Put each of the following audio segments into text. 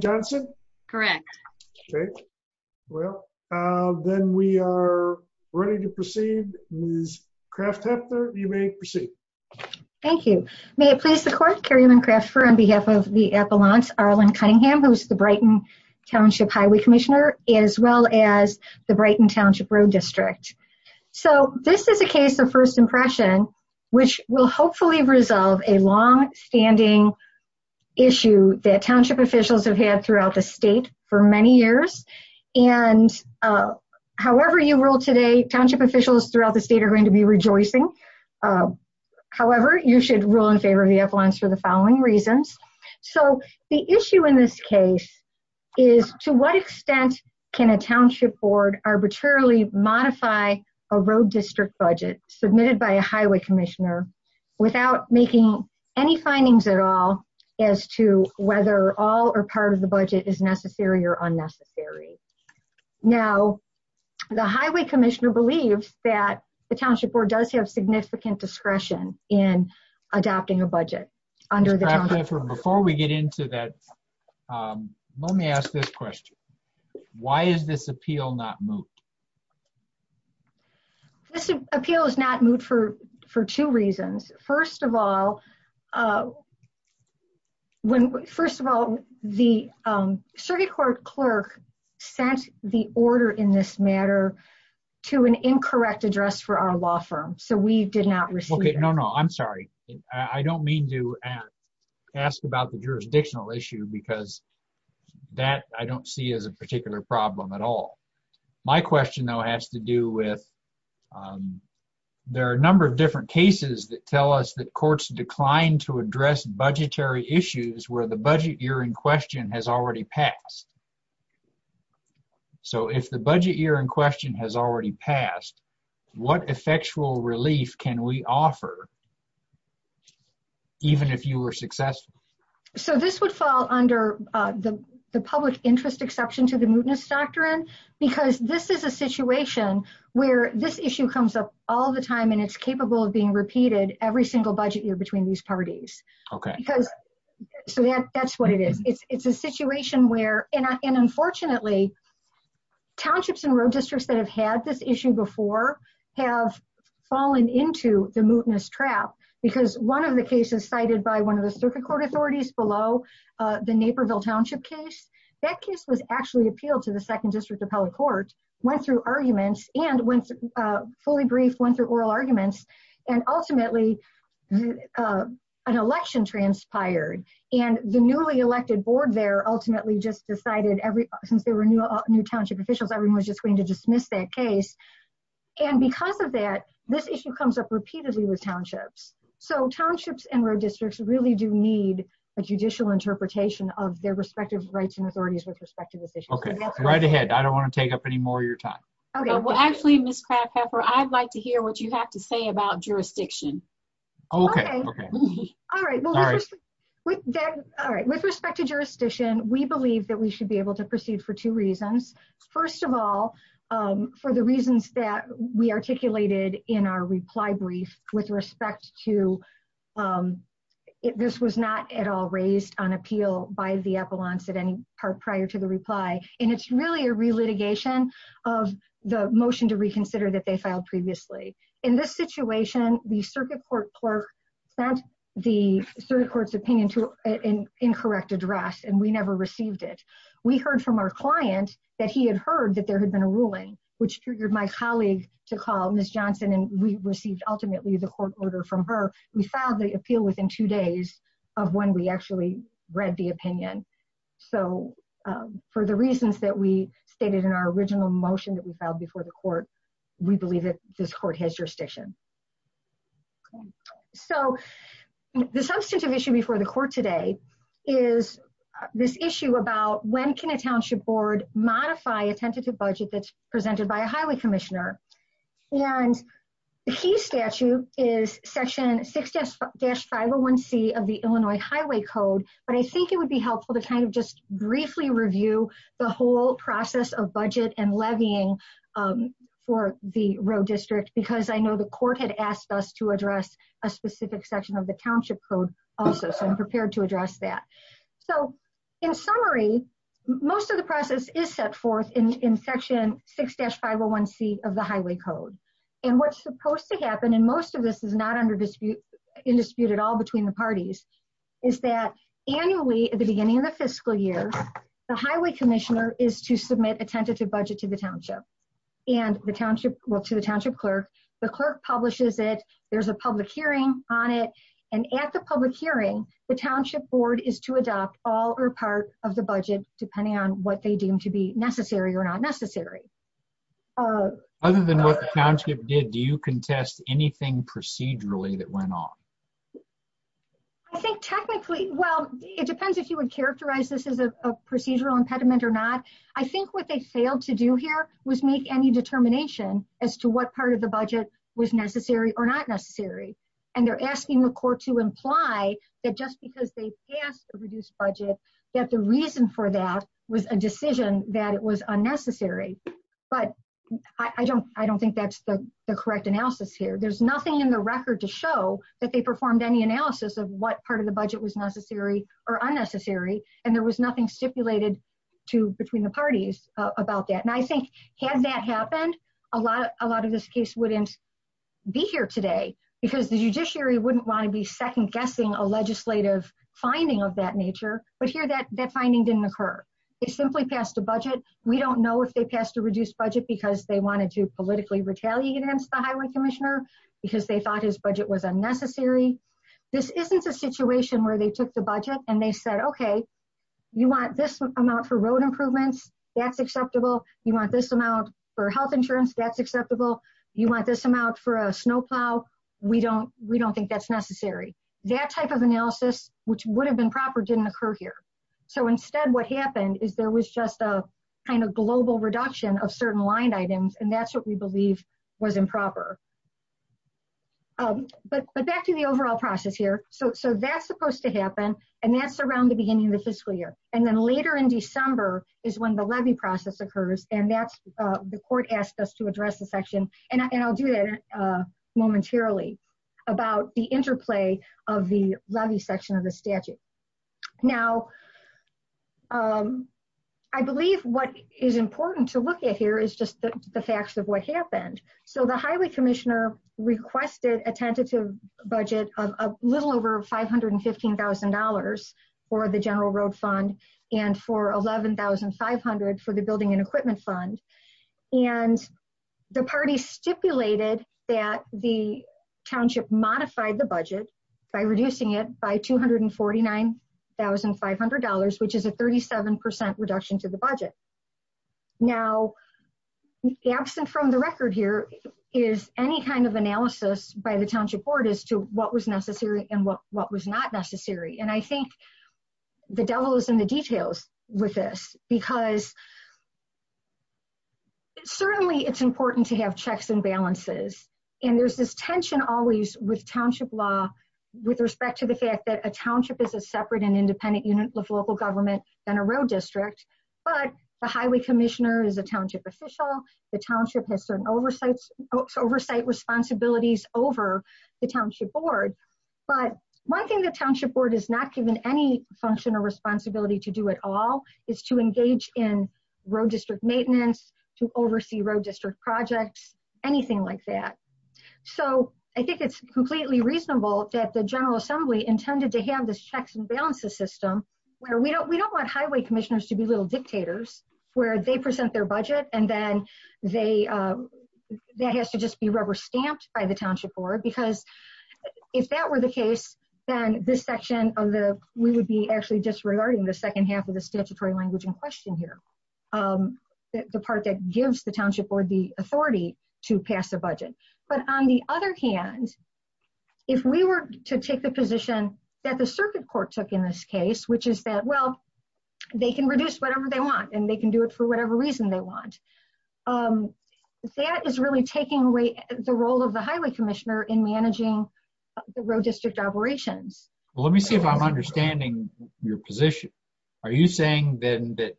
Johnson? Correct. Okay, well, then we are ready to proceed. Ms. Kraft-Hepner, you may proceed. Thank you. May it please the court, Carrie Lynn Kraft-Hepner, on behalf of the Appalachian Arlen Cunningham, who's the Brighton Township Highway Commissioner, as well as the Brighton Township Road District. So this is a case of first impression, which will hopefully resolve a long time. Township officials have had throughout the state for many years, and however you rule today, township officials throughout the state are going to be rejoicing. However, you should rule in favor of the appliance for the following reasons. So the issue in this case is to what extent can a township board arbitrarily modify a road district budget submitted by a highway commissioner without making any findings at all as to whether all or part of the budget is necessary or unnecessary. Now, the highway commissioner believes that the township board does have significant discretion in adopting a budget. Ms. Kraft-Hepner, before we get into that, let me ask this question. Why is this appeal not moot? This appeal is not moot for two reasons. First of all, when, first of all, the circuit court clerk sent the order in this matter to an incorrect address for our law firm, so we did not receive it. Okay, no, no, I'm sorry. I didn't mean to be rude because that I don't see as a particular problem at all. My question, though, has to do with there are a number of different cases that tell us that courts decline to address budgetary issues where the budget year in question has already passed. So if the budget year in question has already passed, what effectual relief can we offer even if you were successful? So this would fall under the public interest exception to the mootness doctrine because this is a situation where this issue comes up all the time and it's capable of being repeated every single budget year between these parties. Okay. Because so that's what it is. It's a situation where, and unfortunately, townships and road districts that have had this issue before have fallen into the mootness trap because one of the cases cited by one of the circuit court authorities below the Naperville township case, that case was actually appealed to the second district appellate court, went through arguments and went, fully briefed, went through oral arguments and ultimately an election transpired and the newly elected board there ultimately just decided every, since there were new township officials, everyone was just going to dismiss that case. And because of that, this issue comes up repeatedly with townships. So townships and road districts really do need a judicial interpretation of their respective rights and authorities with respect to this issue. Okay. Right ahead. I don't want to take up any more of your time. Okay. Well, actually, Ms. Kraffheffer, I'd like to hear what you have to say about jurisdiction. Okay. Okay. All right. All right. With respect to jurisdiction, we believe that we should be able to proceed for two reasons. First of all, for the reasons that we articulated in our reply brief with respect to, this was not at all raised on appeal by the appellants at any part prior to the reply. And it's really a relitigation of the motion to reconsider that they filed previously. In this situation, the circuit court clerk sent the circuit court's opinion to an incorrect address and we never received it. We heard from our client that he had heard that there had been a ruling, which triggered my colleague to call Ms. Johnson and we received ultimately the court order from her. We filed the appeal within two days of when we actually read the opinion. So for the reasons that we stated in our original motion that we filed before the court, we believe that this court has jurisdiction. So the substantive issue before the court today is this issue about when can a township board modify a tentative budget that's presented by a highway commissioner. And the key statute is section 6-501C of the Illinois Highway Code, but I think it would be helpful to kind of briefly review the whole process of budget and levying for the road district because I know the court had asked us to address a specific section of the township code also. So I'm prepared to address that. So in summary, most of the process is set forth in section 6-501C of the Highway Code. And what's supposed to happen, and most of this is not in dispute at all between the parties, is that annually at the beginning of the fiscal year, the highway commissioner is to submit a tentative budget to the township, well to the township clerk. The clerk publishes it, there's a public hearing on it, and at the public hearing, the township board is to adopt all or part of the budget depending on what they deem to be necessary or not necessary. Other than what the township did, do you contest anything procedurally that went on? I think technically, well, it depends if you would characterize this as a procedural impediment or not. I think what they failed to do here was make any determination as to what part of the budget was necessary or not necessary. And they're asking the court to imply that just because they passed a reduced budget, that the reason for that was a decision that it was unnecessary. But I don't think that's the correct analysis here. There's nothing in the record to confirm any analysis of what part of the budget was necessary or unnecessary. And there was nothing stipulated between the parties about that. And I think had that happened, a lot of this case wouldn't be here today, because the judiciary wouldn't want to be second guessing a legislative finding of that nature. But here, that finding didn't occur. They simply passed a budget. We don't know if they passed a reduced budget because they wanted to politically retaliate against the This isn't a situation where they took the budget and they said, okay, you want this amount for road improvements? That's acceptable. You want this amount for health insurance? That's acceptable. You want this amount for a snowplow? We don't think that's necessary. That type of analysis, which would have been proper didn't occur here. So instead, what happened is there was just a kind of global reduction of certain line items. And that's what believe was improper. But back to the overall process here. So that's supposed to happen. And that's around the beginning of the fiscal year. And then later in December is when the levy process occurs. And that's the court asked us to address the section. And I'll do that momentarily about the interplay of the levy section of the statute. Now, um, I believe what is important to look at here is just the facts of what happened. So the highway commissioner requested a tentative budget of a little over $515,000 for the general road fund, and for 11,500 for the building and equipment fund. And the party stipulated that the township modified the budget by reducing it by $249,500, which is a 37% reduction to the budget. Now, absent from the record here is any kind of analysis by the township board as to what was necessary and what what was not necessary. And I think the devil is in the details with this, because certainly it's important to have checks and balances. And there's this tension always with township law, with respect to the fact that a township is a separate and independent unit of local government than a road district. But the highway commissioner is a township official, the township has certain oversight, oversight responsibilities over the township board. But one thing the township board is not given any function or responsibility to do at all is to engage in road district maintenance, to oversee road district projects, anything like that. So I think it's completely reasonable that the General Assembly intended to have this checks and balances system, where we don't we don't want highway commissioners to be little dictators, where they present their budget, and then they, that has to just be rubber stamped by the township board. Because if that were the case, then this section of the we would be actually disregarding the second half of the statutory language in question here. The part that gives the township the authority to pass a budget. But on the other hand, if we were to take the position that the circuit court took in this case, which is that well, they can reduce whatever they want, and they can do it for whatever reason they want. That is really taking away the role of the highway commissioner in managing the road district operations. Let me see if I'm understanding your position. Are you saying then that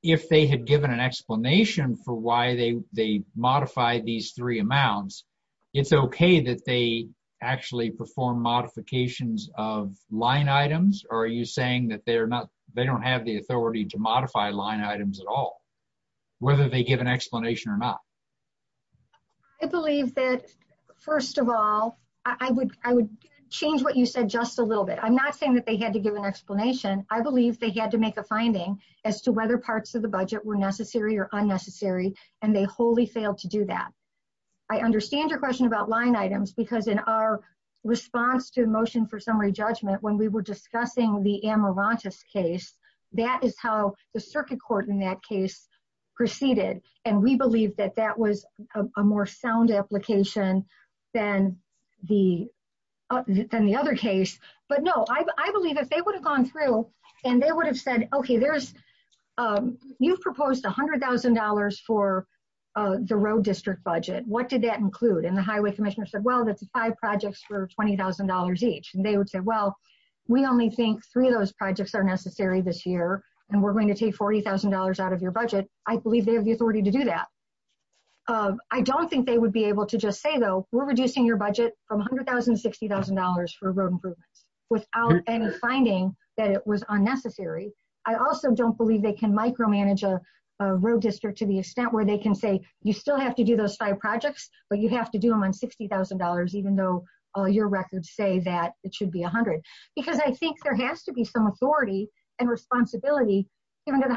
if they had given an explanation for why they they modify these three amounts, it's okay that they actually perform modifications of line items? Or are you saying that they're not they don't have the authority to modify line items at all? Whether they give an explanation or not? I believe that first of all, I would I would change what you said just a little bit. I'm not saying that they had to give an explanation. I believe they had to make a finding as to whether parts of the budget were necessary or unnecessary, and they wholly failed to do that. I understand your question about line items, because in our response to motion for summary judgment, when we were discussing the amaranthus case, that is how the circuit court in that case proceeded. And we believe that that was a more sound application than the other case. But no, I believe if they would have gone through, and they would have said, okay, you've proposed $100,000 for the road district budget. What did that include? And the highway commissioner said, well, that's five projects for $20,000 each. And they would say, well, we only think three of those projects are necessary this year, and we're going to take $40,000 out of your budget. I believe they have the authority to do that. I don't think they would be able to just say, though, we're reducing your budget from $100,000 to $60,000 for road improvements without any finding that it was unnecessary. I also don't believe they can micromanage a road district to the extent where they can say, you still have to do those five projects, but you have to do them on $60,000, even though all your records say that it should be 100. Because I think there has to be some authority and responsibility given to the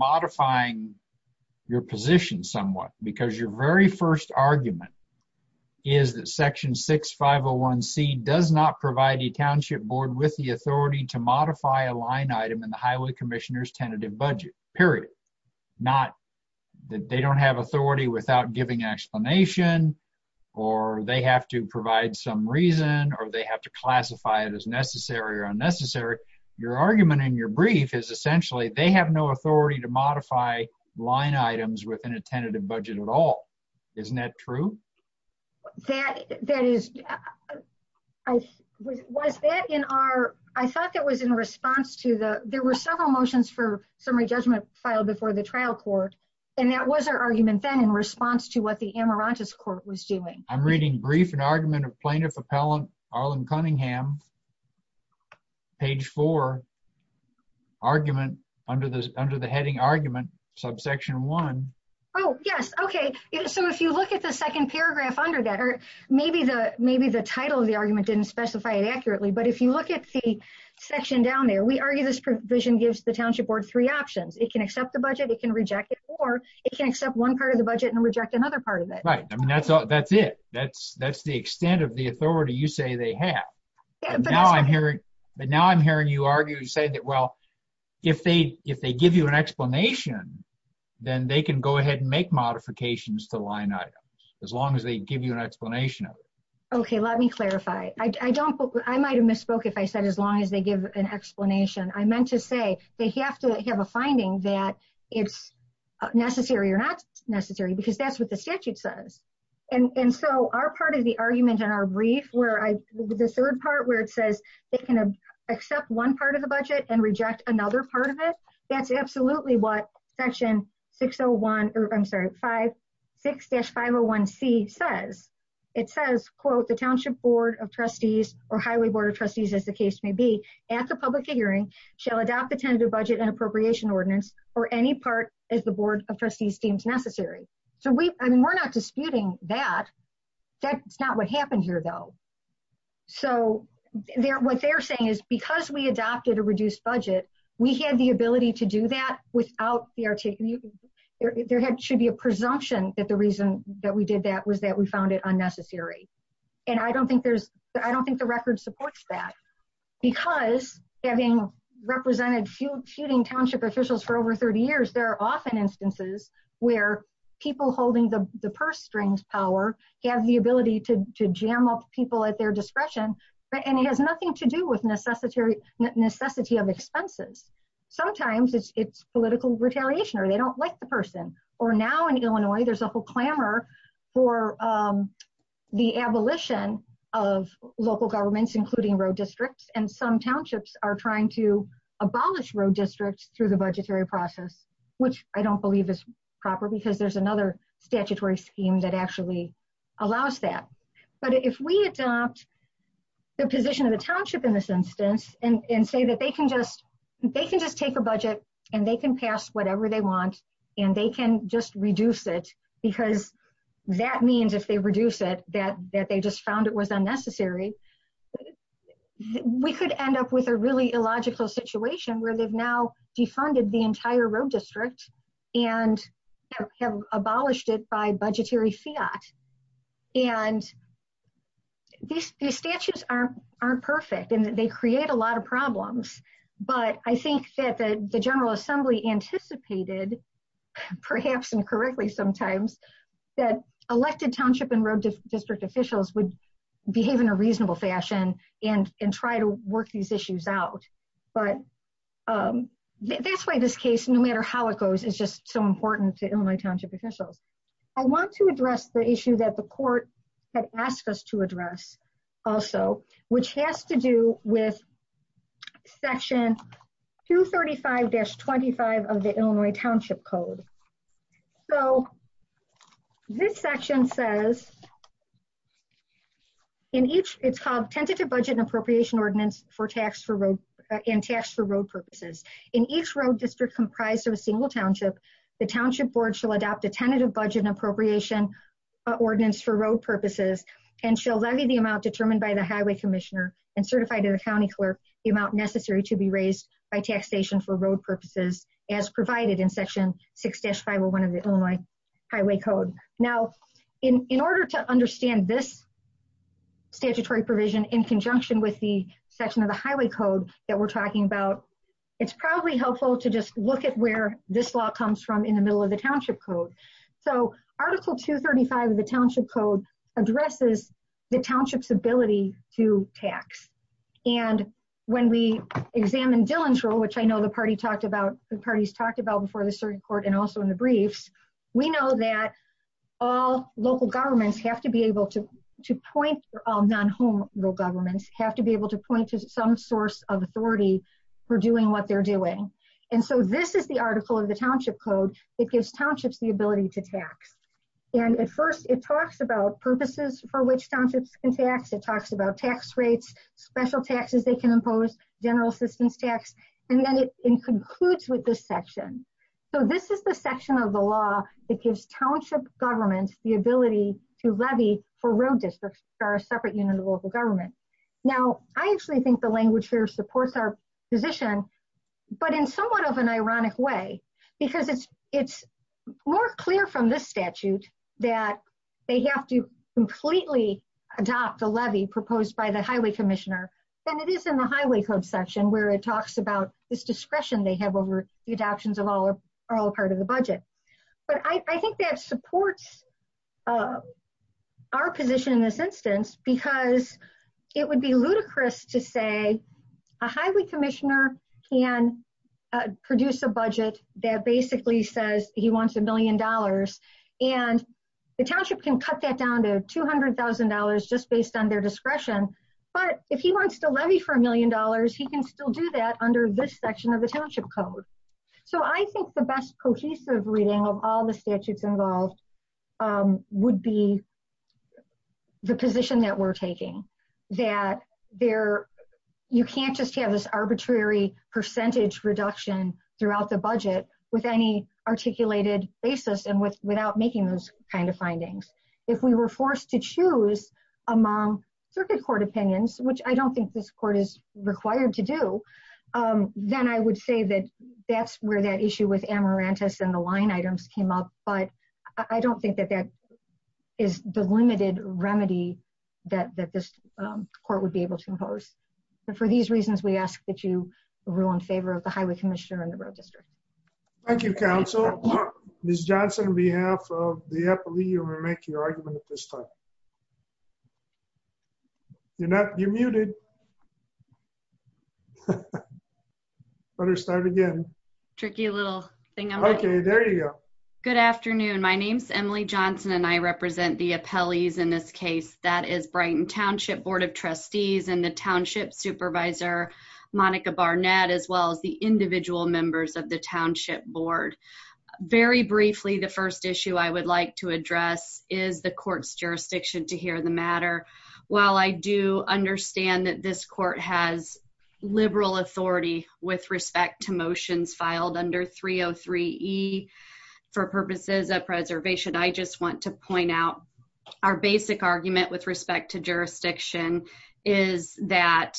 modifying your position somewhat. Because your very first argument is that Section 6501C does not provide a township board with the authority to modify a line item in the highway commissioner's tentative budget, period. Not that they don't have authority without giving explanation, or they have to provide some reason, or they have to classify it as necessary or unnecessary. Your argument in your brief is essentially, they have no authority to modify line items within a tentative budget at all. Isn't that true? I thought that was in response to the, there were several motions for summary judgment filed before the trial court, and that was our argument then in response to what the Amarantus court was doing. I'm reading brief and argument of plaintiff appellant Arlen Cunningham, page four, argument under the heading argument, subsection one. Oh, yes. Okay. So if you look at the second paragraph under that, or maybe the title of the argument didn't specify it accurately, but if you look at the section down there, we argue this provision gives the township board three options. It can accept the budget, it can reject it, or it can accept one part of the budget and reject another part of it. Right. I mean, that's it. That's the extent of the authority you say they have. But now I'm hearing you argue and say that, well, if they give you an explanation, then they can go ahead and make modifications to line items, as long as they give you an explanation of it. Okay. Let me clarify. I don't, I might've misspoke if I said, as long as they give an explanation, I meant to say they have to have a finding that it's necessary or not necessary, because that's what the statute says. And so our part of the argument in our brief where I, the third part where it says it can accept one part of the budget and reject another part of it. That's absolutely what section 601, or I'm sorry, five, six dash 501 C says. It says, quote, the township board of trustees or highway board of trustees, as the case may be at the public hearing shall adopt the tentative budget and appropriation ordinance or any part as the board of trustees seems necessary. So we, I mean, we're not disputing that. That's not what happened here though. So they're, what they're saying is because we adopted a reduced budget, we had the ability to do that without the, there had, should be a presumption that the reason that we did that was that we found it unnecessary. And I don't think there's, I don't think the record supports that because having represented few feuding township officials for over 30 years, there are often instances where people holding the purse strings power have the ability to jam up people at their discretion, but, and it has nothing to do with necessity of expenses. Sometimes it's political retaliation or they don't like the person or now in Illinois, there's a whole clamor for the abolition of local governments, including road districts. And some townships are trying to proper because there's another statutory scheme that actually allows that. But if we adopt the position of the township in this instance and say that they can just, they can just take a budget and they can pass whatever they want and they can just reduce it because that means if they reduce it, that, that they just found it was unnecessary. We could end up with a really situation where they've now defunded the entire road district and have abolished it by budgetary fiat. And these statutes aren't, aren't perfect and they create a lot of problems, but I think that the general assembly anticipated perhaps incorrectly sometimes that elected township and road district officials would behave in a reasonable fashion and, and try to work these out. But that's why this case, no matter how it goes, is just so important to Illinois township officials. I want to address the issue that the court had asked us to address also, which has to do with section 235-25 of the Illinois township code. So this section says in each, it's called tentative budget and appropriation ordinance for tax for road and tax for road purposes. In each road district comprised of a single township, the township board shall adopt a tentative budget and appropriation ordinance for road purposes and shall levy the amount determined by the highway commissioner and certify to the county clerk the amount necessary to be raised by taxation for road purposes as provided in section 6-501 of the Illinois highway code. Now in, in order to in conjunction with the section of the highway code that we're talking about, it's probably helpful to just look at where this law comes from in the middle of the township code. So article 235 of the township code addresses the township's ability to tax. And when we examine Dillon's rule, which I know the party talked about, the parties talked about before the cert court and also in the briefs, we know that all local governments have to be able to, to point, all non-home governments have to be able to point to some source of authority for doing what they're doing. And so this is the article of the township code that gives townships the ability to tax. And at first it talks about purposes for which townships can tax. It talks about tax rates, special taxes they can impose, general assistance tax, and then it concludes with this section. So this is the section of the law that gives township governments the ability to levy for road districts for a separate unit of local government. Now I actually think the language here supports our position, but in somewhat of an ironic way, because it's, it's more clear from this statute that they have to completely adopt a levy proposed by the highway commissioner than it is in highway code section, where it talks about this discretion they have over the adoptions of all, are all part of the budget. But I think that supports our position in this instance, because it would be ludicrous to say a highway commissioner can produce a budget that basically says he wants a million dollars and the township can cut that down to $200,000 just based on their $200,000. He can still do that under this section of the township code. So I think the best cohesive reading of all the statutes involved would be the position that we're taking, that there, you can't just have this arbitrary percentage reduction throughout the budget with any articulated basis and without making those kind of findings. If we were forced to choose among circuit court opinions, which I don't think this court is required to do, then I would say that that's where that issue with amaranthus and the line items came up, but I don't think that that is the limited remedy that, that this court would be able to impose. But for these reasons, we ask that you rule in favor of the highway commissioner and the road district. Thank you, counsel. Ms. Johnson, on behalf of the appellee, you may make your argument at this time. You're not, you're muted. Better start again. Tricky little thing. Okay, there you go. Good afternoon. My name's Emily Johnson and I represent the appellees in this case. That is Brighton Township Board of Trustees and the township supervisor, Monica Barnett, as well as the individual members of the township board. Very briefly, the first issue I would like to address is the court's jurisdiction to hear the matter. While I do understand that this court has liberal authority with respect to motions filed under 303 E for purposes of preservation, I just want to point out our basic argument with respect to jurisdiction is that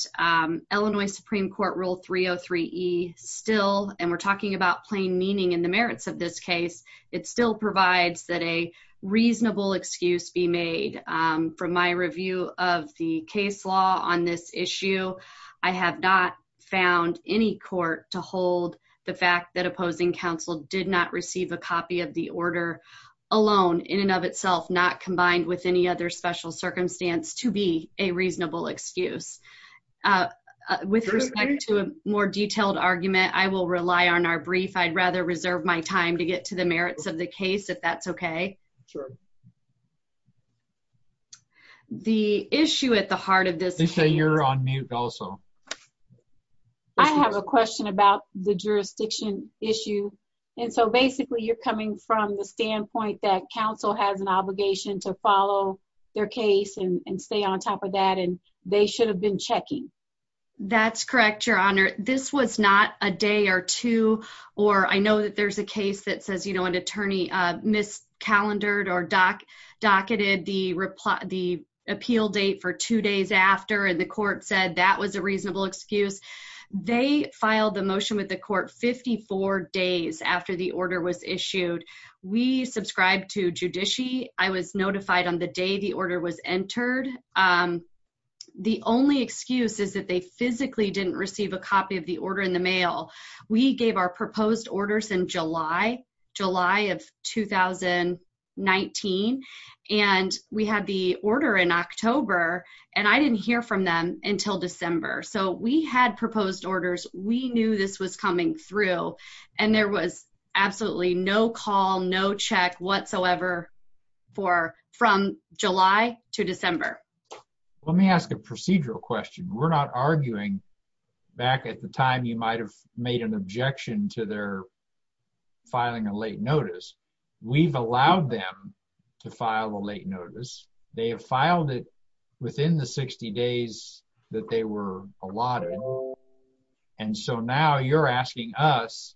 Illinois Supreme Court Rule 303 E still, and we're talking about plain meaning and the merits of this case, it still provides that a reasonable excuse be made. From my review of the case law on this issue, I have not found any court to hold the fact that opposing counsel did not receive a copy of the order alone in and of itself, not combined with any other special circumstance to be a reasonable excuse. With respect to a more detailed argument, I will rely on our brief. I'd rather reserve my time to get to the merits of the case, if that's okay. The issue at the heart of this... They say you're on mute also. I have a question about the jurisdiction issue, and so basically you're coming from the standpoint that counsel has an obligation to follow their case and stay on top of that, and they should have been checking. That's correct, Your Honor. This was not a day or two, or I know that there's a case that says, you know, an attorney mis-calendared or docketed the appeal date for two days after, and the court said that was a reasonable excuse. They filed the motion with the judiciary. I was notified on the day the order was entered. The only excuse is that they physically didn't receive a copy of the order in the mail. We gave our proposed orders in July of 2019, and we had the order in October, and I didn't hear from them until December. So we had proposed no excuse whatsoever from July to December. Let me ask a procedural question. We're not arguing back at the time you might have made an objection to their filing a late notice. We've allowed them to file a late notice. They have filed it within the 60 days that they were allotted, and so now you're asking us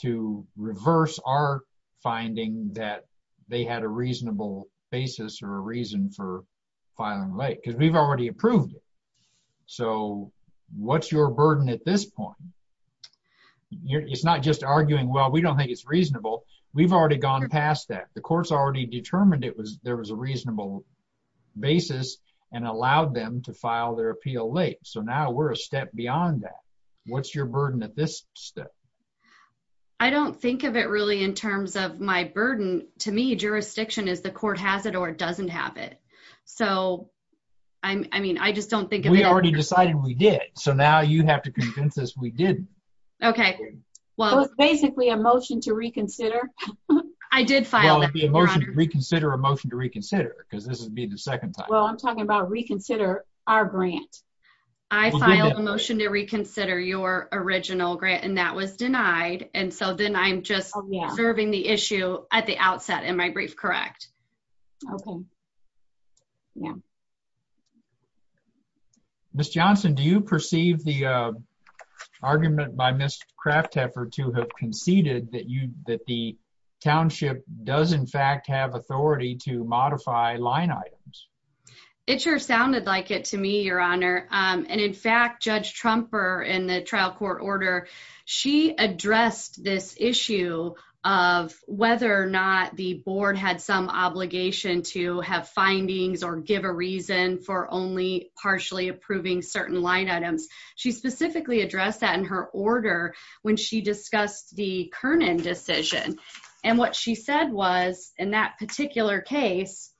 to reverse our finding that they had a reasonable basis or a reason for filing late, because we've already approved it. So what's your burden at this point? It's not just arguing, well, we don't think it's reasonable. We've already gone past that. The court's already determined there was a reasonable basis and allowed them to file their appeal late, so now we're a step beyond that. What's your burden at this step? I don't think of it really in terms of my burden. To me, jurisdiction is the court has it or doesn't have it, so I mean, I just don't think of it. We already decided we did, so now you have to convince us we didn't. Okay. Well, it's basically a motion to reconsider. I did file that. Well, it'd be a motion to reconsider, a motion to reconsider, because this would be the second time. Well, I'm talking about our grant. I filed a motion to reconsider your original grant, and that was denied, and so then I'm just observing the issue at the outset. Am I brief correct? Okay. Ms. Johnson, do you perceive the argument by Ms. Kraftheffer to have conceded that the to me, Your Honor, and in fact, Judge Trumper in the trial court order, she addressed this issue of whether or not the board had some obligation to have findings or give a reason for only partially approving certain line items. She specifically addressed that in her order when she discussed the Kernan decision, and what she said was in that particular case,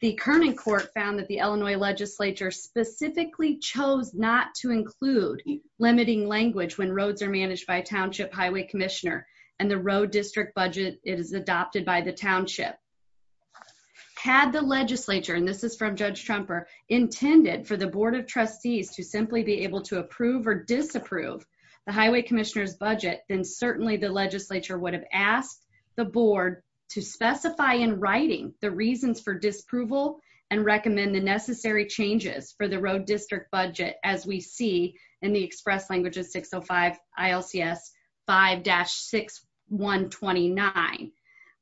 the Kernan court found that the Illinois legislature specifically chose not to include limiting language when roads are managed by a township highway commissioner and the road district budget is adopted by the township. Had the legislature, and this is from Judge Trumper, intended for the board of trustees to simply be able to approve or disapprove the highway commissioner's budget, then certainly the legislature would have asked the board to disapproval and recommend the necessary changes for the road district budget as we see in the express language of 605 ILCS 5-6129,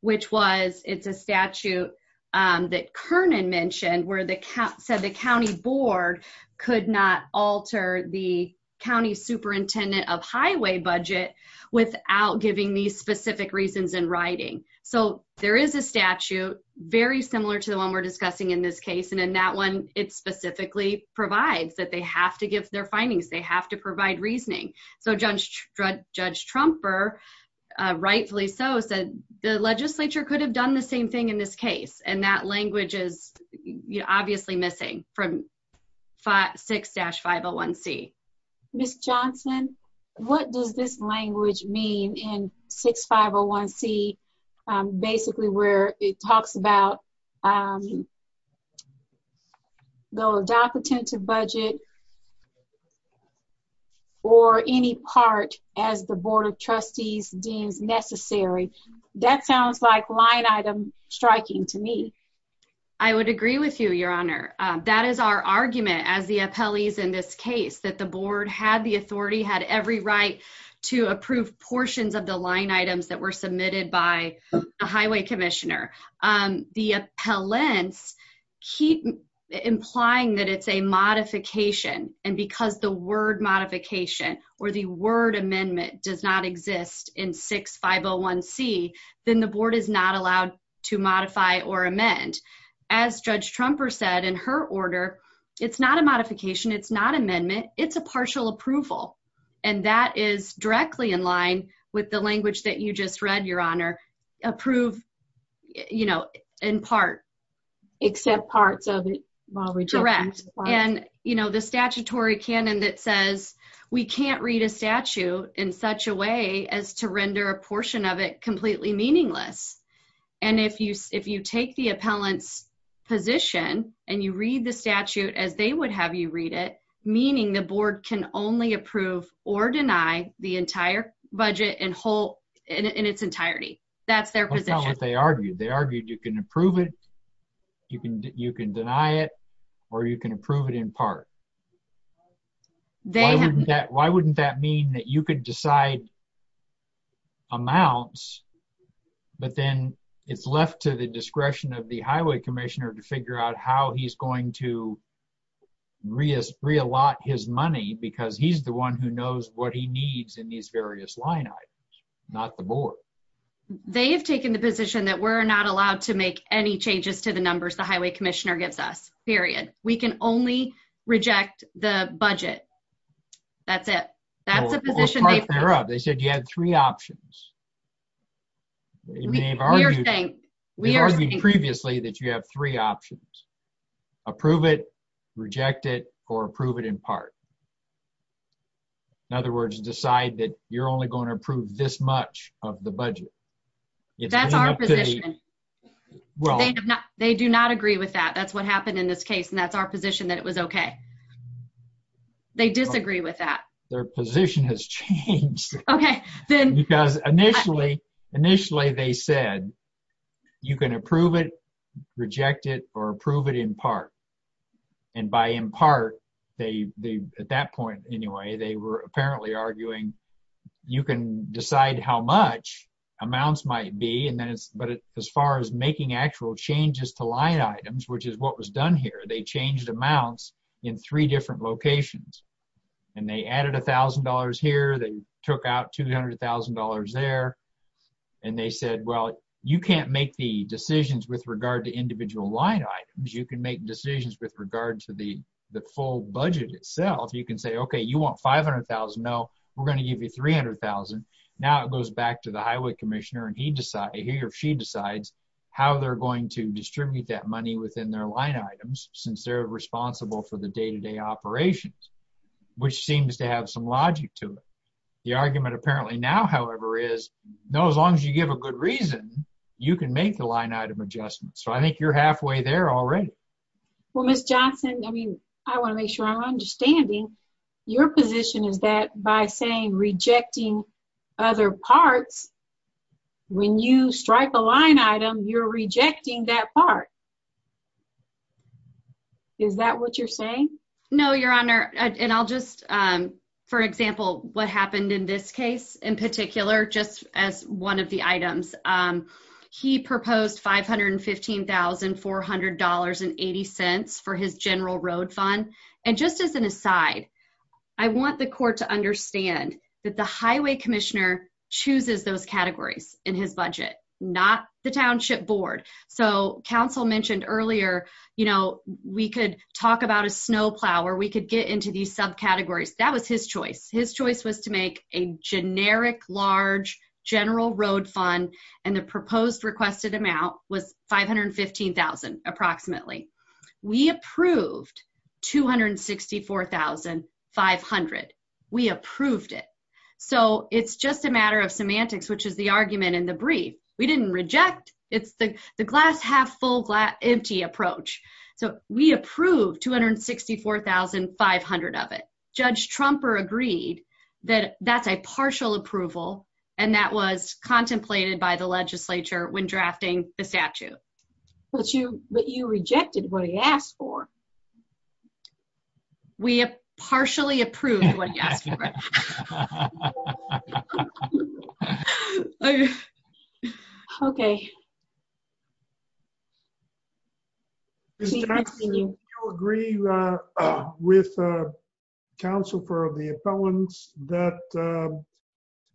which was it's a statute that Kernan mentioned where the county board could not alter the county superintendent of highway budget without giving these specific reasons in writing. So there is a statute very similar to the one we're discussing in this case, and in that one it specifically provides that they have to give their findings, they have to provide reasoning. So Judge Trumper, rightfully so, said the legislature could have done the same thing in this case, and that language is obviously missing from 6-501C. Ms. Johnson, what does this language mean in 6-501C, basically where it talks about the adoptative budget or any part as the board of trustees deems necessary? That sounds like line item striking to me. I would agree with you, your honor. That is our argument as the appellees in this case, that the board had the authority, had every right to approve portions of the line items that were submitted by the highway commissioner. The appellants keep implying that it's a modification, and because the word modification or the word amendment does not exist in 6-501C, then the board is not allowed to modify or amend. As Judge Trumper said in her order, it's not a modification, it's not amendment, it's a partial approval, and that is directly in line with the language that you just read, your honor. Approve, you know, in part. Accept parts of it. And, you know, the statutory canon that says we can't read a statute in such a way as to render a portion of it completely meaningless. And if you take the appellant's position and you read the statute as they would have you read it, meaning the board can only approve or deny the entire budget in its entirety. That's their position. That's not what they argued. They argued you can approve it, you can deny it, or you can approve it in part. Why wouldn't that mean that you could decide amounts, but then it's left to the discretion of the highway commissioner to figure out how he's going to reallot his money because he's the one who knows what he needs in these various line items, not the board. They've taken the position that we're not allowed to make any changes to the numbers the highway commissioner gives us, period. We can only reject the budget. That's it. That's the position. They said you had three options. We argued previously that you have three options. Approve it, reject it, or approve it in part. In other words, decide that you're only going to approve this much of the budget. That's our position. They do not agree with that. That's what happened in this case, and that's our position that it was okay. They disagree with that. Their position has changed. Initially, they said you can approve it, reject it, or approve it in part. By in part, at that point anyway, they were apparently arguing you can decide how much amounts might be, but as far as making actual changes to line items, which is what was done here, they changed amounts in three different locations. They added $1,000 here. They took out $200,000 there, and they said, well, you can't make the decisions with regard to individual line items. You can make decisions with regard to the full budget itself. You can say, okay, you want $500,000? No, we're going to give you $300,000. Now, it goes back to the highway commissioner, and he or she decides how they're going to distribute that money within their line items, since they're responsible for the day-to-day operations, which seems to have some logic to it. The argument apparently now, however, is no, as long as you give a good reason, you can make the line item adjustment. So, I think you're halfway there already. Well, Ms. Johnson, I mean, I want to make sure I'm understanding. Your position is that by saying rejecting other parts, when you strike a line item, you're rejecting that part. Is that what you're saying? No, Your Honor, and I'll just, for example, what happened in this case in particular, just as one of the items, he proposed $515,400.80 for his general road fund, and just as an aside, I want the court to understand that the highway commissioner chooses those categories in his budget, not the township board. So, council mentioned earlier, you know, we could talk about a snowplow, or we could get into these subcategories. That was his choice. His choice was to make a generic, large general road fund, and the proposed requested amount was $515,000 approximately. We approved $264,500. We approved it. So, it's just a matter of semantics, which is the argument in the brief. We didn't reject. It's the glass half full, empty approach. So, we approved $264,500 of it. Judge Trumper agreed that that's a partial approval, and that was contemplated by the legislature when drafting the statute. But you rejected what he asked for. We partially approved what he asked for. Okay. Ms. Johnson, do you agree with the counsel for the appellants that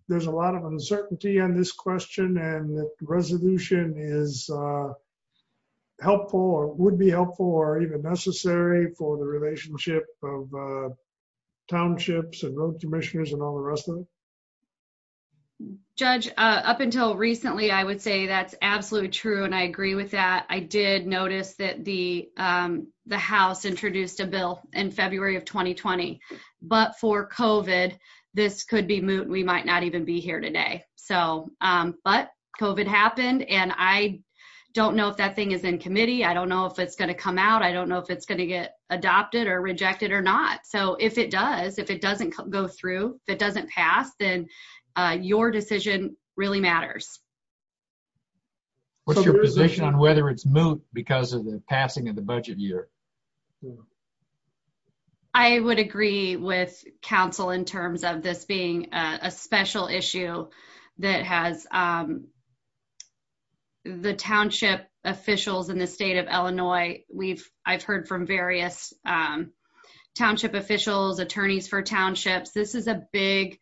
there's a lot of uncertainty on this question, and that resolution is helpful, or would be helpful, or even necessary for the relationship of townships and road commissioners and all the rest of it? Judge, up until recently, I would say that's absolutely true, and I agree with that. I did notice that the House introduced a bill in February of 2020. But for COVID, this could be moot. We might not even be here today. So, but COVID happened, and I don't know if that thing is in committee. I don't know if it's going to come out. I don't know if it's going to get through. If it doesn't pass, then your decision really matters. What's your position on whether it's moot because of the passing of the budget year? I would agree with counsel in terms of this being a special issue that has the township officials in the state of Illinois. I've heard from various township officials, attorneys for townships, this is a big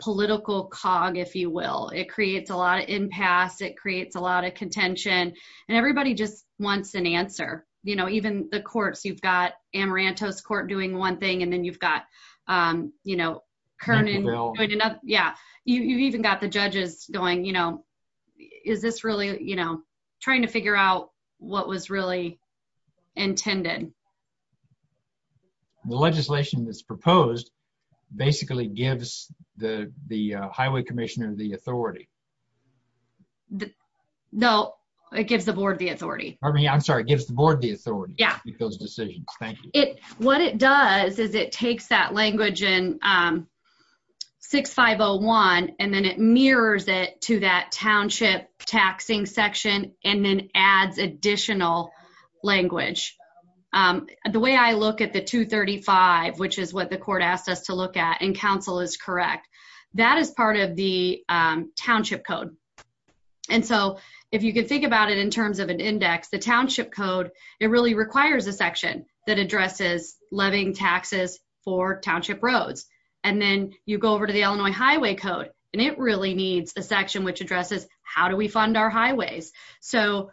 political cog, if you will. It creates a lot of impasse. It creates a lot of contention, and everybody just wants an answer. You know, even the courts, you've got Amaranto's court doing one thing, and then you've got, you know, yeah, you've even got the judges going, you know, is this really, you know, trying to figure out what was really intended? The legislation that's proposed basically gives the highway commissioner the authority. No, it gives the board the authority. Pardon me, I'm sorry, it gives the board the authority to make those decisions. Thank you. What it does is it takes that language in 6501, and then it mirrors it to that township taxing section, and then adds additional language. The way I look at the 235, which is what the court asked us to look at, and counsel is correct, that is part of the township code, and so if you can think about it in terms of an index, the township code, it really requires a section that addresses levying taxes for township roads, and then you go over to the Illinois Highway Code, and it really needs a section which addresses how do we fund our highways. So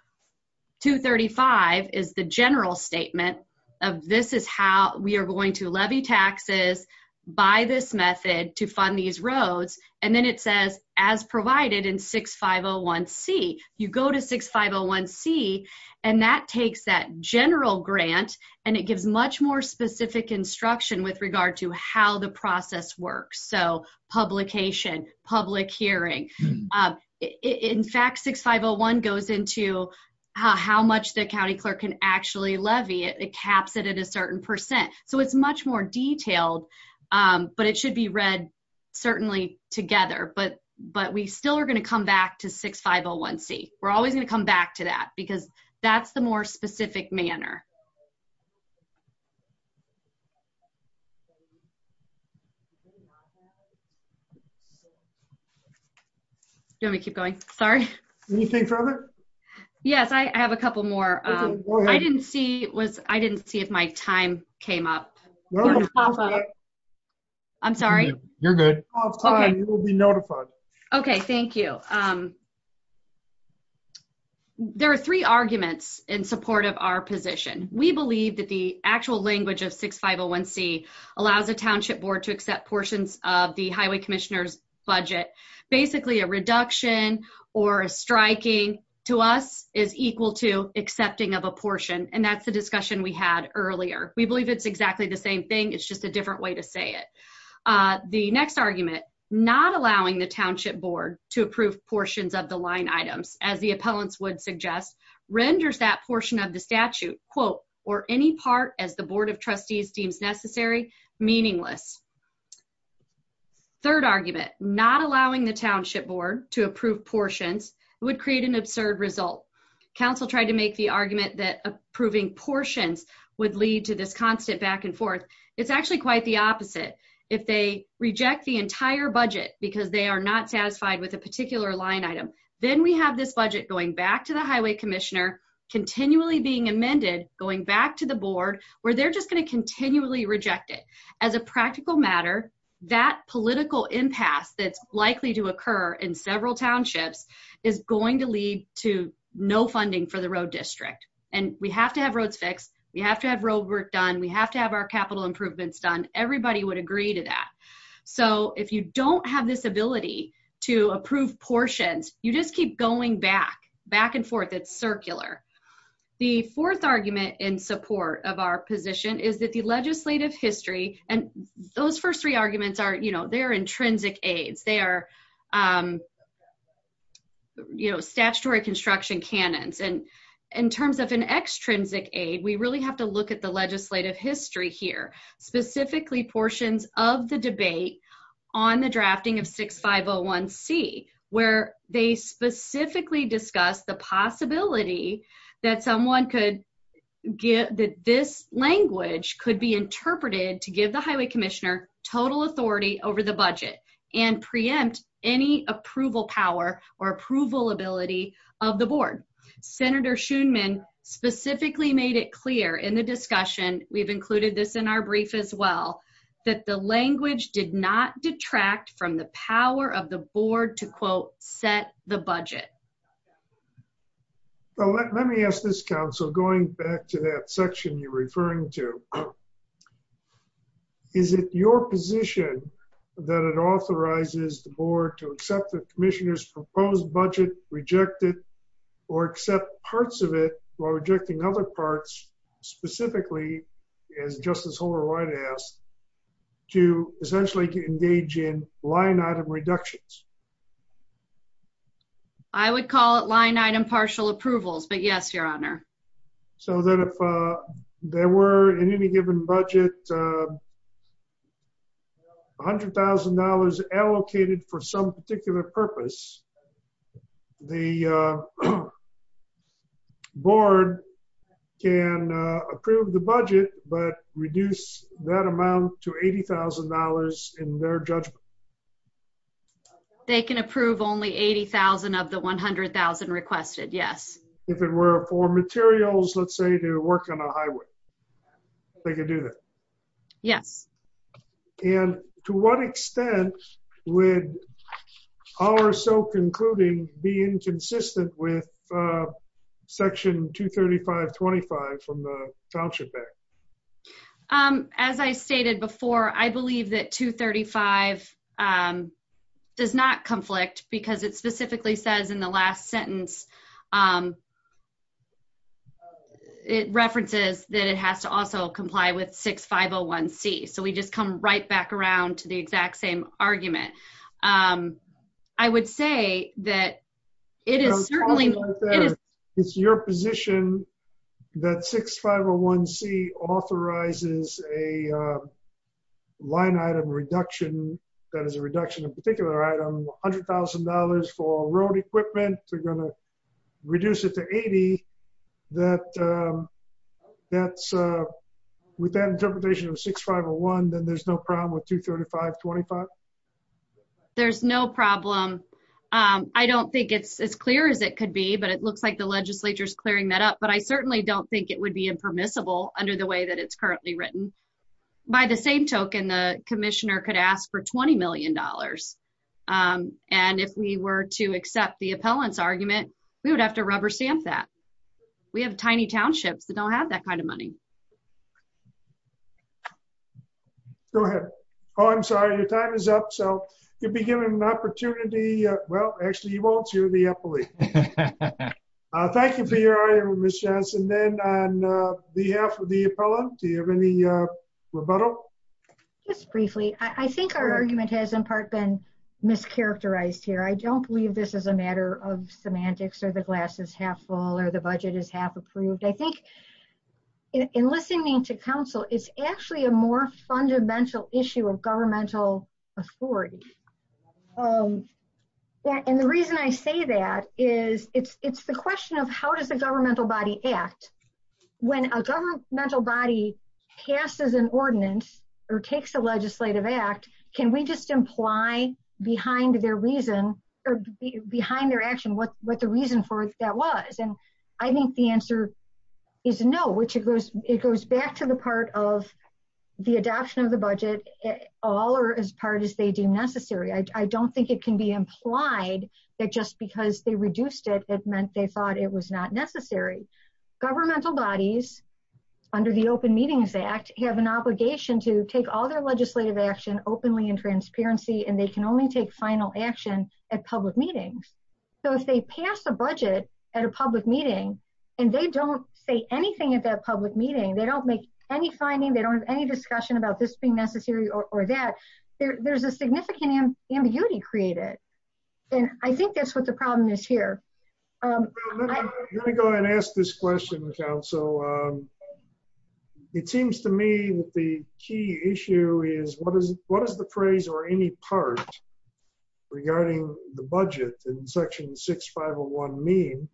235 is the general statement of this is how we are going to levy taxes by this method to fund these roads, and then it says as provided in 6501C. You go to 6501C, and that takes that general grant, and it gives much more specific instruction with regard to how the process works, so publication, public hearing. In fact, 6501 goes into how much the county clerk can actually levy. It caps it at a certain percent, so it's much more detailed, but it should be read certainly together, but we still are going to come back to 6501C. We're always going to come back to that, because that's the more specific information we need. Thank you. Thank you. Do you want me to keep going? Sorry. Anything further? Yes. I have a couple more. I didn't see if my time came up. No, of course not. I'm sorry. You're good. You will be notified. Okay. Thank you. There are three arguments in support of our position. We believe that the actual language of 6501C allows a township board to accept portions of the highway commissioner's budget. Basically, a reduction or a striking to us is equal to accepting of a portion, and that's the discussion we had earlier. We believe it's exactly the same thing. It's just a different way to say it. The next argument, not allowing the township board to approve portions of the line items, as the appellants would suggest, renders that portion of the statute, quote, or any part as the board of trustees deems necessary, meaningless. Third argument, not allowing the township board to approve portions would create an absurd result. Council tried to make the argument that approving portions would lead to this constant back and forth. It's actually quite the opposite. If they reject the entire budget because they are not satisfied with a particular line item, then we have this budget going back to the highway commissioner, continually being amended, going back to the board, where they're just going to continually reject it. As a practical matter, that political impasse that's likely to occur in several townships is going to lead to no funding for the road district. And we have to have roads fixed. We have to have road work done. We have to have our capital improvements done. Everybody would agree to that. So if you don't have this ability to approve portions, you just keep going back, back and forth. It's circular. The fourth argument in support of our position is that the legislative history, and those first three arguments are, you know, they're intrinsic aides. They are, you know, statutory construction cannons. And in terms of an extrinsic aide, we really have to look at the legislative history here, specifically portions of the debate on the highway commissioner. We specifically discussed the possibility that someone could get that this language could be interpreted to give the highway commissioner total authority over the budget and preempt any approval power or approval ability of the board. Senator Shoonman specifically made it clear in the discussion, we've included this in our brief as well, that the language did not detract from the power of the board to quote set the budget. Well, let me ask this council, going back to that section you're referring to, is it your position that it authorizes the board to accept the commissioner's proposed budget, reject it, or accept parts of it while rejecting other parts, specifically, as Justice Holder-White asked, to essentially engage in line item reductions? I would call it line item partial approvals, but yes, your honor. So that if there were in any given budget $100,000 allocated for some particular purpose, the board can approve the budget but reduce that amount to $80,000 in their judgment? They can approve only $80,000 of the $100,000 requested, yes. If it were for materials, let's say to work on a highway, they could do that? Yes. And to what extent would our SOAP concluding be inconsistent with section 235.25 from the Township Act? As I stated before, I believe that 235 does not conflict because it specifically says in the last sentence, it references that it has to also comply with 6501C. So we just come right back around to the exact same argument. I would say that it is certainly, it's your position that 6501C authorizes a line item reduction, that is a reduction of particular item, $100,000 for road equipment, we're going to reduce it to $80,000. With that interpretation of 6501, then there's no problem with 235.25? There's no problem. I don't think it's as clear as it could be, but it looks like the legislature is clearing that up. But I certainly don't think it would be impermissible under the way that it's currently written. By the same token, the commissioner could ask for $20 million. And if we were to accept the appellant's argument, we would have to rubber stamp that. We have tiny townships that don't have that kind of money. Go ahead. Oh, I'm sorry, your time is up. So you'll be given an opportunity. Well, actually you won't, you're the appellee. Thank you for your honor, Ms. Johnson. Then on behalf of the appellant, do you have any rebuttal? Just briefly, I think our argument has in part been mischaracterized here. I don't believe this is a matter of semantics or the glass is half full or the budget is half approved. I think in listening to council, it's actually a more fundamental issue of governmental authority. And the reason I say that is it's the question of how does the governmental body act? When a governmental body passes an ordinance or takes a legislative act, can we just imply behind their reason or behind their action what the reason for that was? And I think the answer is no, which it goes back to the part of the adoption of the budget, all or as part as they deem necessary. I don't think it can be implied that just because they reduced it, it meant they thought it was not necessary. Governmental bodies under the Open Meetings Act have an obligation to take all their legislative action openly and transparency, and they can only take final action at public meetings. So if they pass a budget at a public meeting and they don't say anything at that public meeting, they don't make any finding, they don't have any discussion about this being necessary or that, there's a significant ambiguity created. And I think that's why I'm asking this here. I'm going to go ahead and ask this question, counsel. It seems to me that the key issue is what is, what is the phrase or any part regarding the budget in section 6501 mean?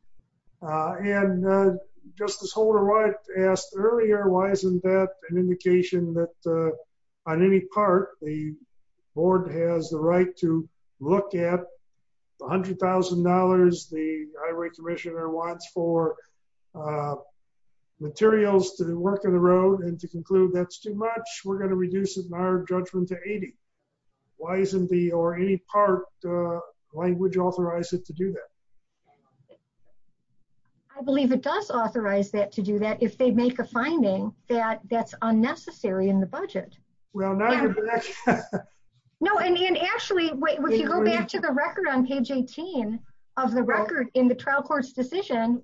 And Justice Holder-Wright asked earlier, why isn't that an indication that on any part the board has the right to look at the $100,000 the Highway Commissioner wants for materials to the work of the road and to conclude that's too much, we're going to reduce it in our judgment to 80. Why isn't the, or any part, language authorize it to do that? I believe it does authorize that to do that if they make a finding that that's unnecessary in the budget. Well, now you're back. No, and actually, wait, if you go back to the record on page 18 of the record in the trial court's decision,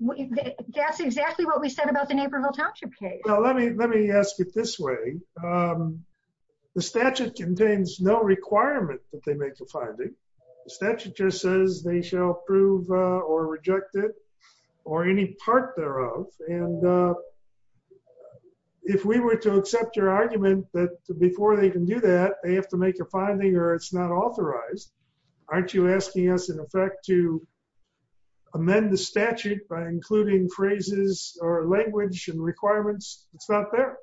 that's exactly what we said about the Naperville Township case. Well, let me, let me ask it this way. The statute contains no requirement that they make a finding. The statute just says they shall approve or reject it or any part thereof. And if we were to accept your argument that before they can do that, they have to make a finding or it's not authorized. Aren't you asking us in effect to amend the statute by including phrases or language and requirements? It's not there.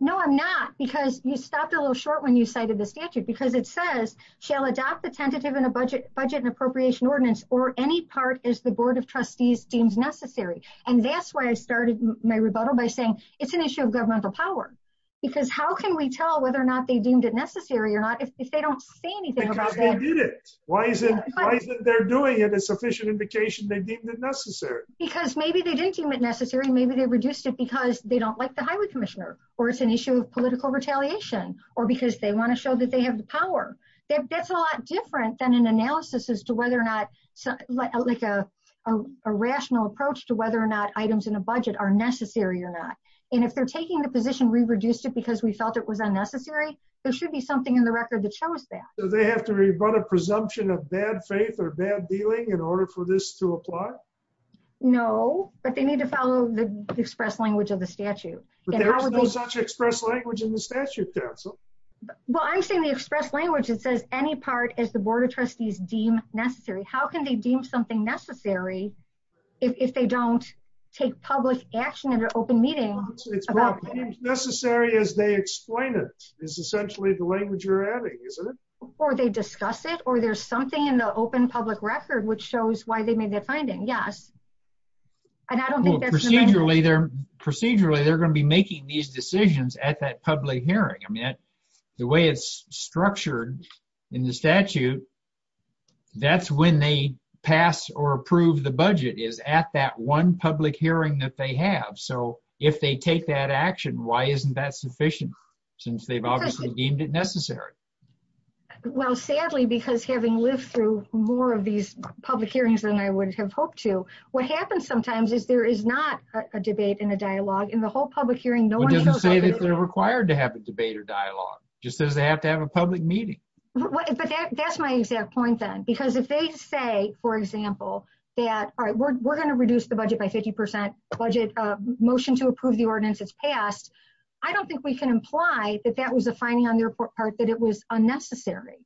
No, I'm not. Because you stopped a little short when you cited the statute because it says shall adopt the tentative in a budget, budget and appropriation ordinance or any part as the board of trustees deems necessary. And that's why I started my rebuttal by saying it's an issue of governmental power, because how can we tell whether or not they deemed it necessary or not? If they don't say anything about it, why isn't, why isn't there doing it a sufficient indication they deemed it necessary? Because maybe they didn't deem it necessary. Maybe they reduced it because they don't like the highway commissioner or it's an issue of political retaliation or because they want to show that they have the power. That's a lot different than an analysis as to whether or not, like a rational approach to whether or not items in a budget are necessary or not. And if they're taking the position, we reduced it because we felt it was unnecessary. There should be something in the record that shows that. Do they have to rebut a presumption of bad faith or bad dealing in order for this to apply? No, but they need to follow the express counsel. Well, I'm saying the express language, it says any part as the board of trustees deem necessary. How can they deem something necessary if they don't take public action in an open meeting? It's necessary as they explain it is essentially the language you're adding, isn't it? Or they discuss it or there's something in the open public record, which shows why they made that finding. Yes. And I don't think procedurally they're procedurally, they're going to be making these decisions at that public hearing. I mean, the way it's structured in the statute, that's when they pass or approve the budget is at that one public hearing that they have. So if they take that action, why isn't that sufficient? Since they've obviously deemed it necessary. Well, sadly, because having lived through more of these public hearings than I would have hoped to, what happens sometimes is there is not a debate and a dialogue in the whole public hearing. It doesn't say that they're required to have a debate or dialogue just says they have to have a public meeting. But that's my exact point then, because if they say, for example, that, all right, we're going to reduce the budget by 50% budget motion to approve the ordinance it's passed. I don't think we can imply that that was a finding on their part that it was unnecessary.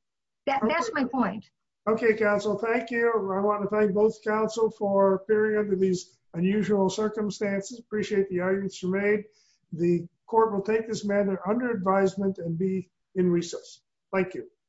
That's my point. Okay, council. Thank you. I want to thank both council for appearing under these unusual circumstances. Appreciate the arguments you made. The court will take this matter under advisement and be in recess. Thank you.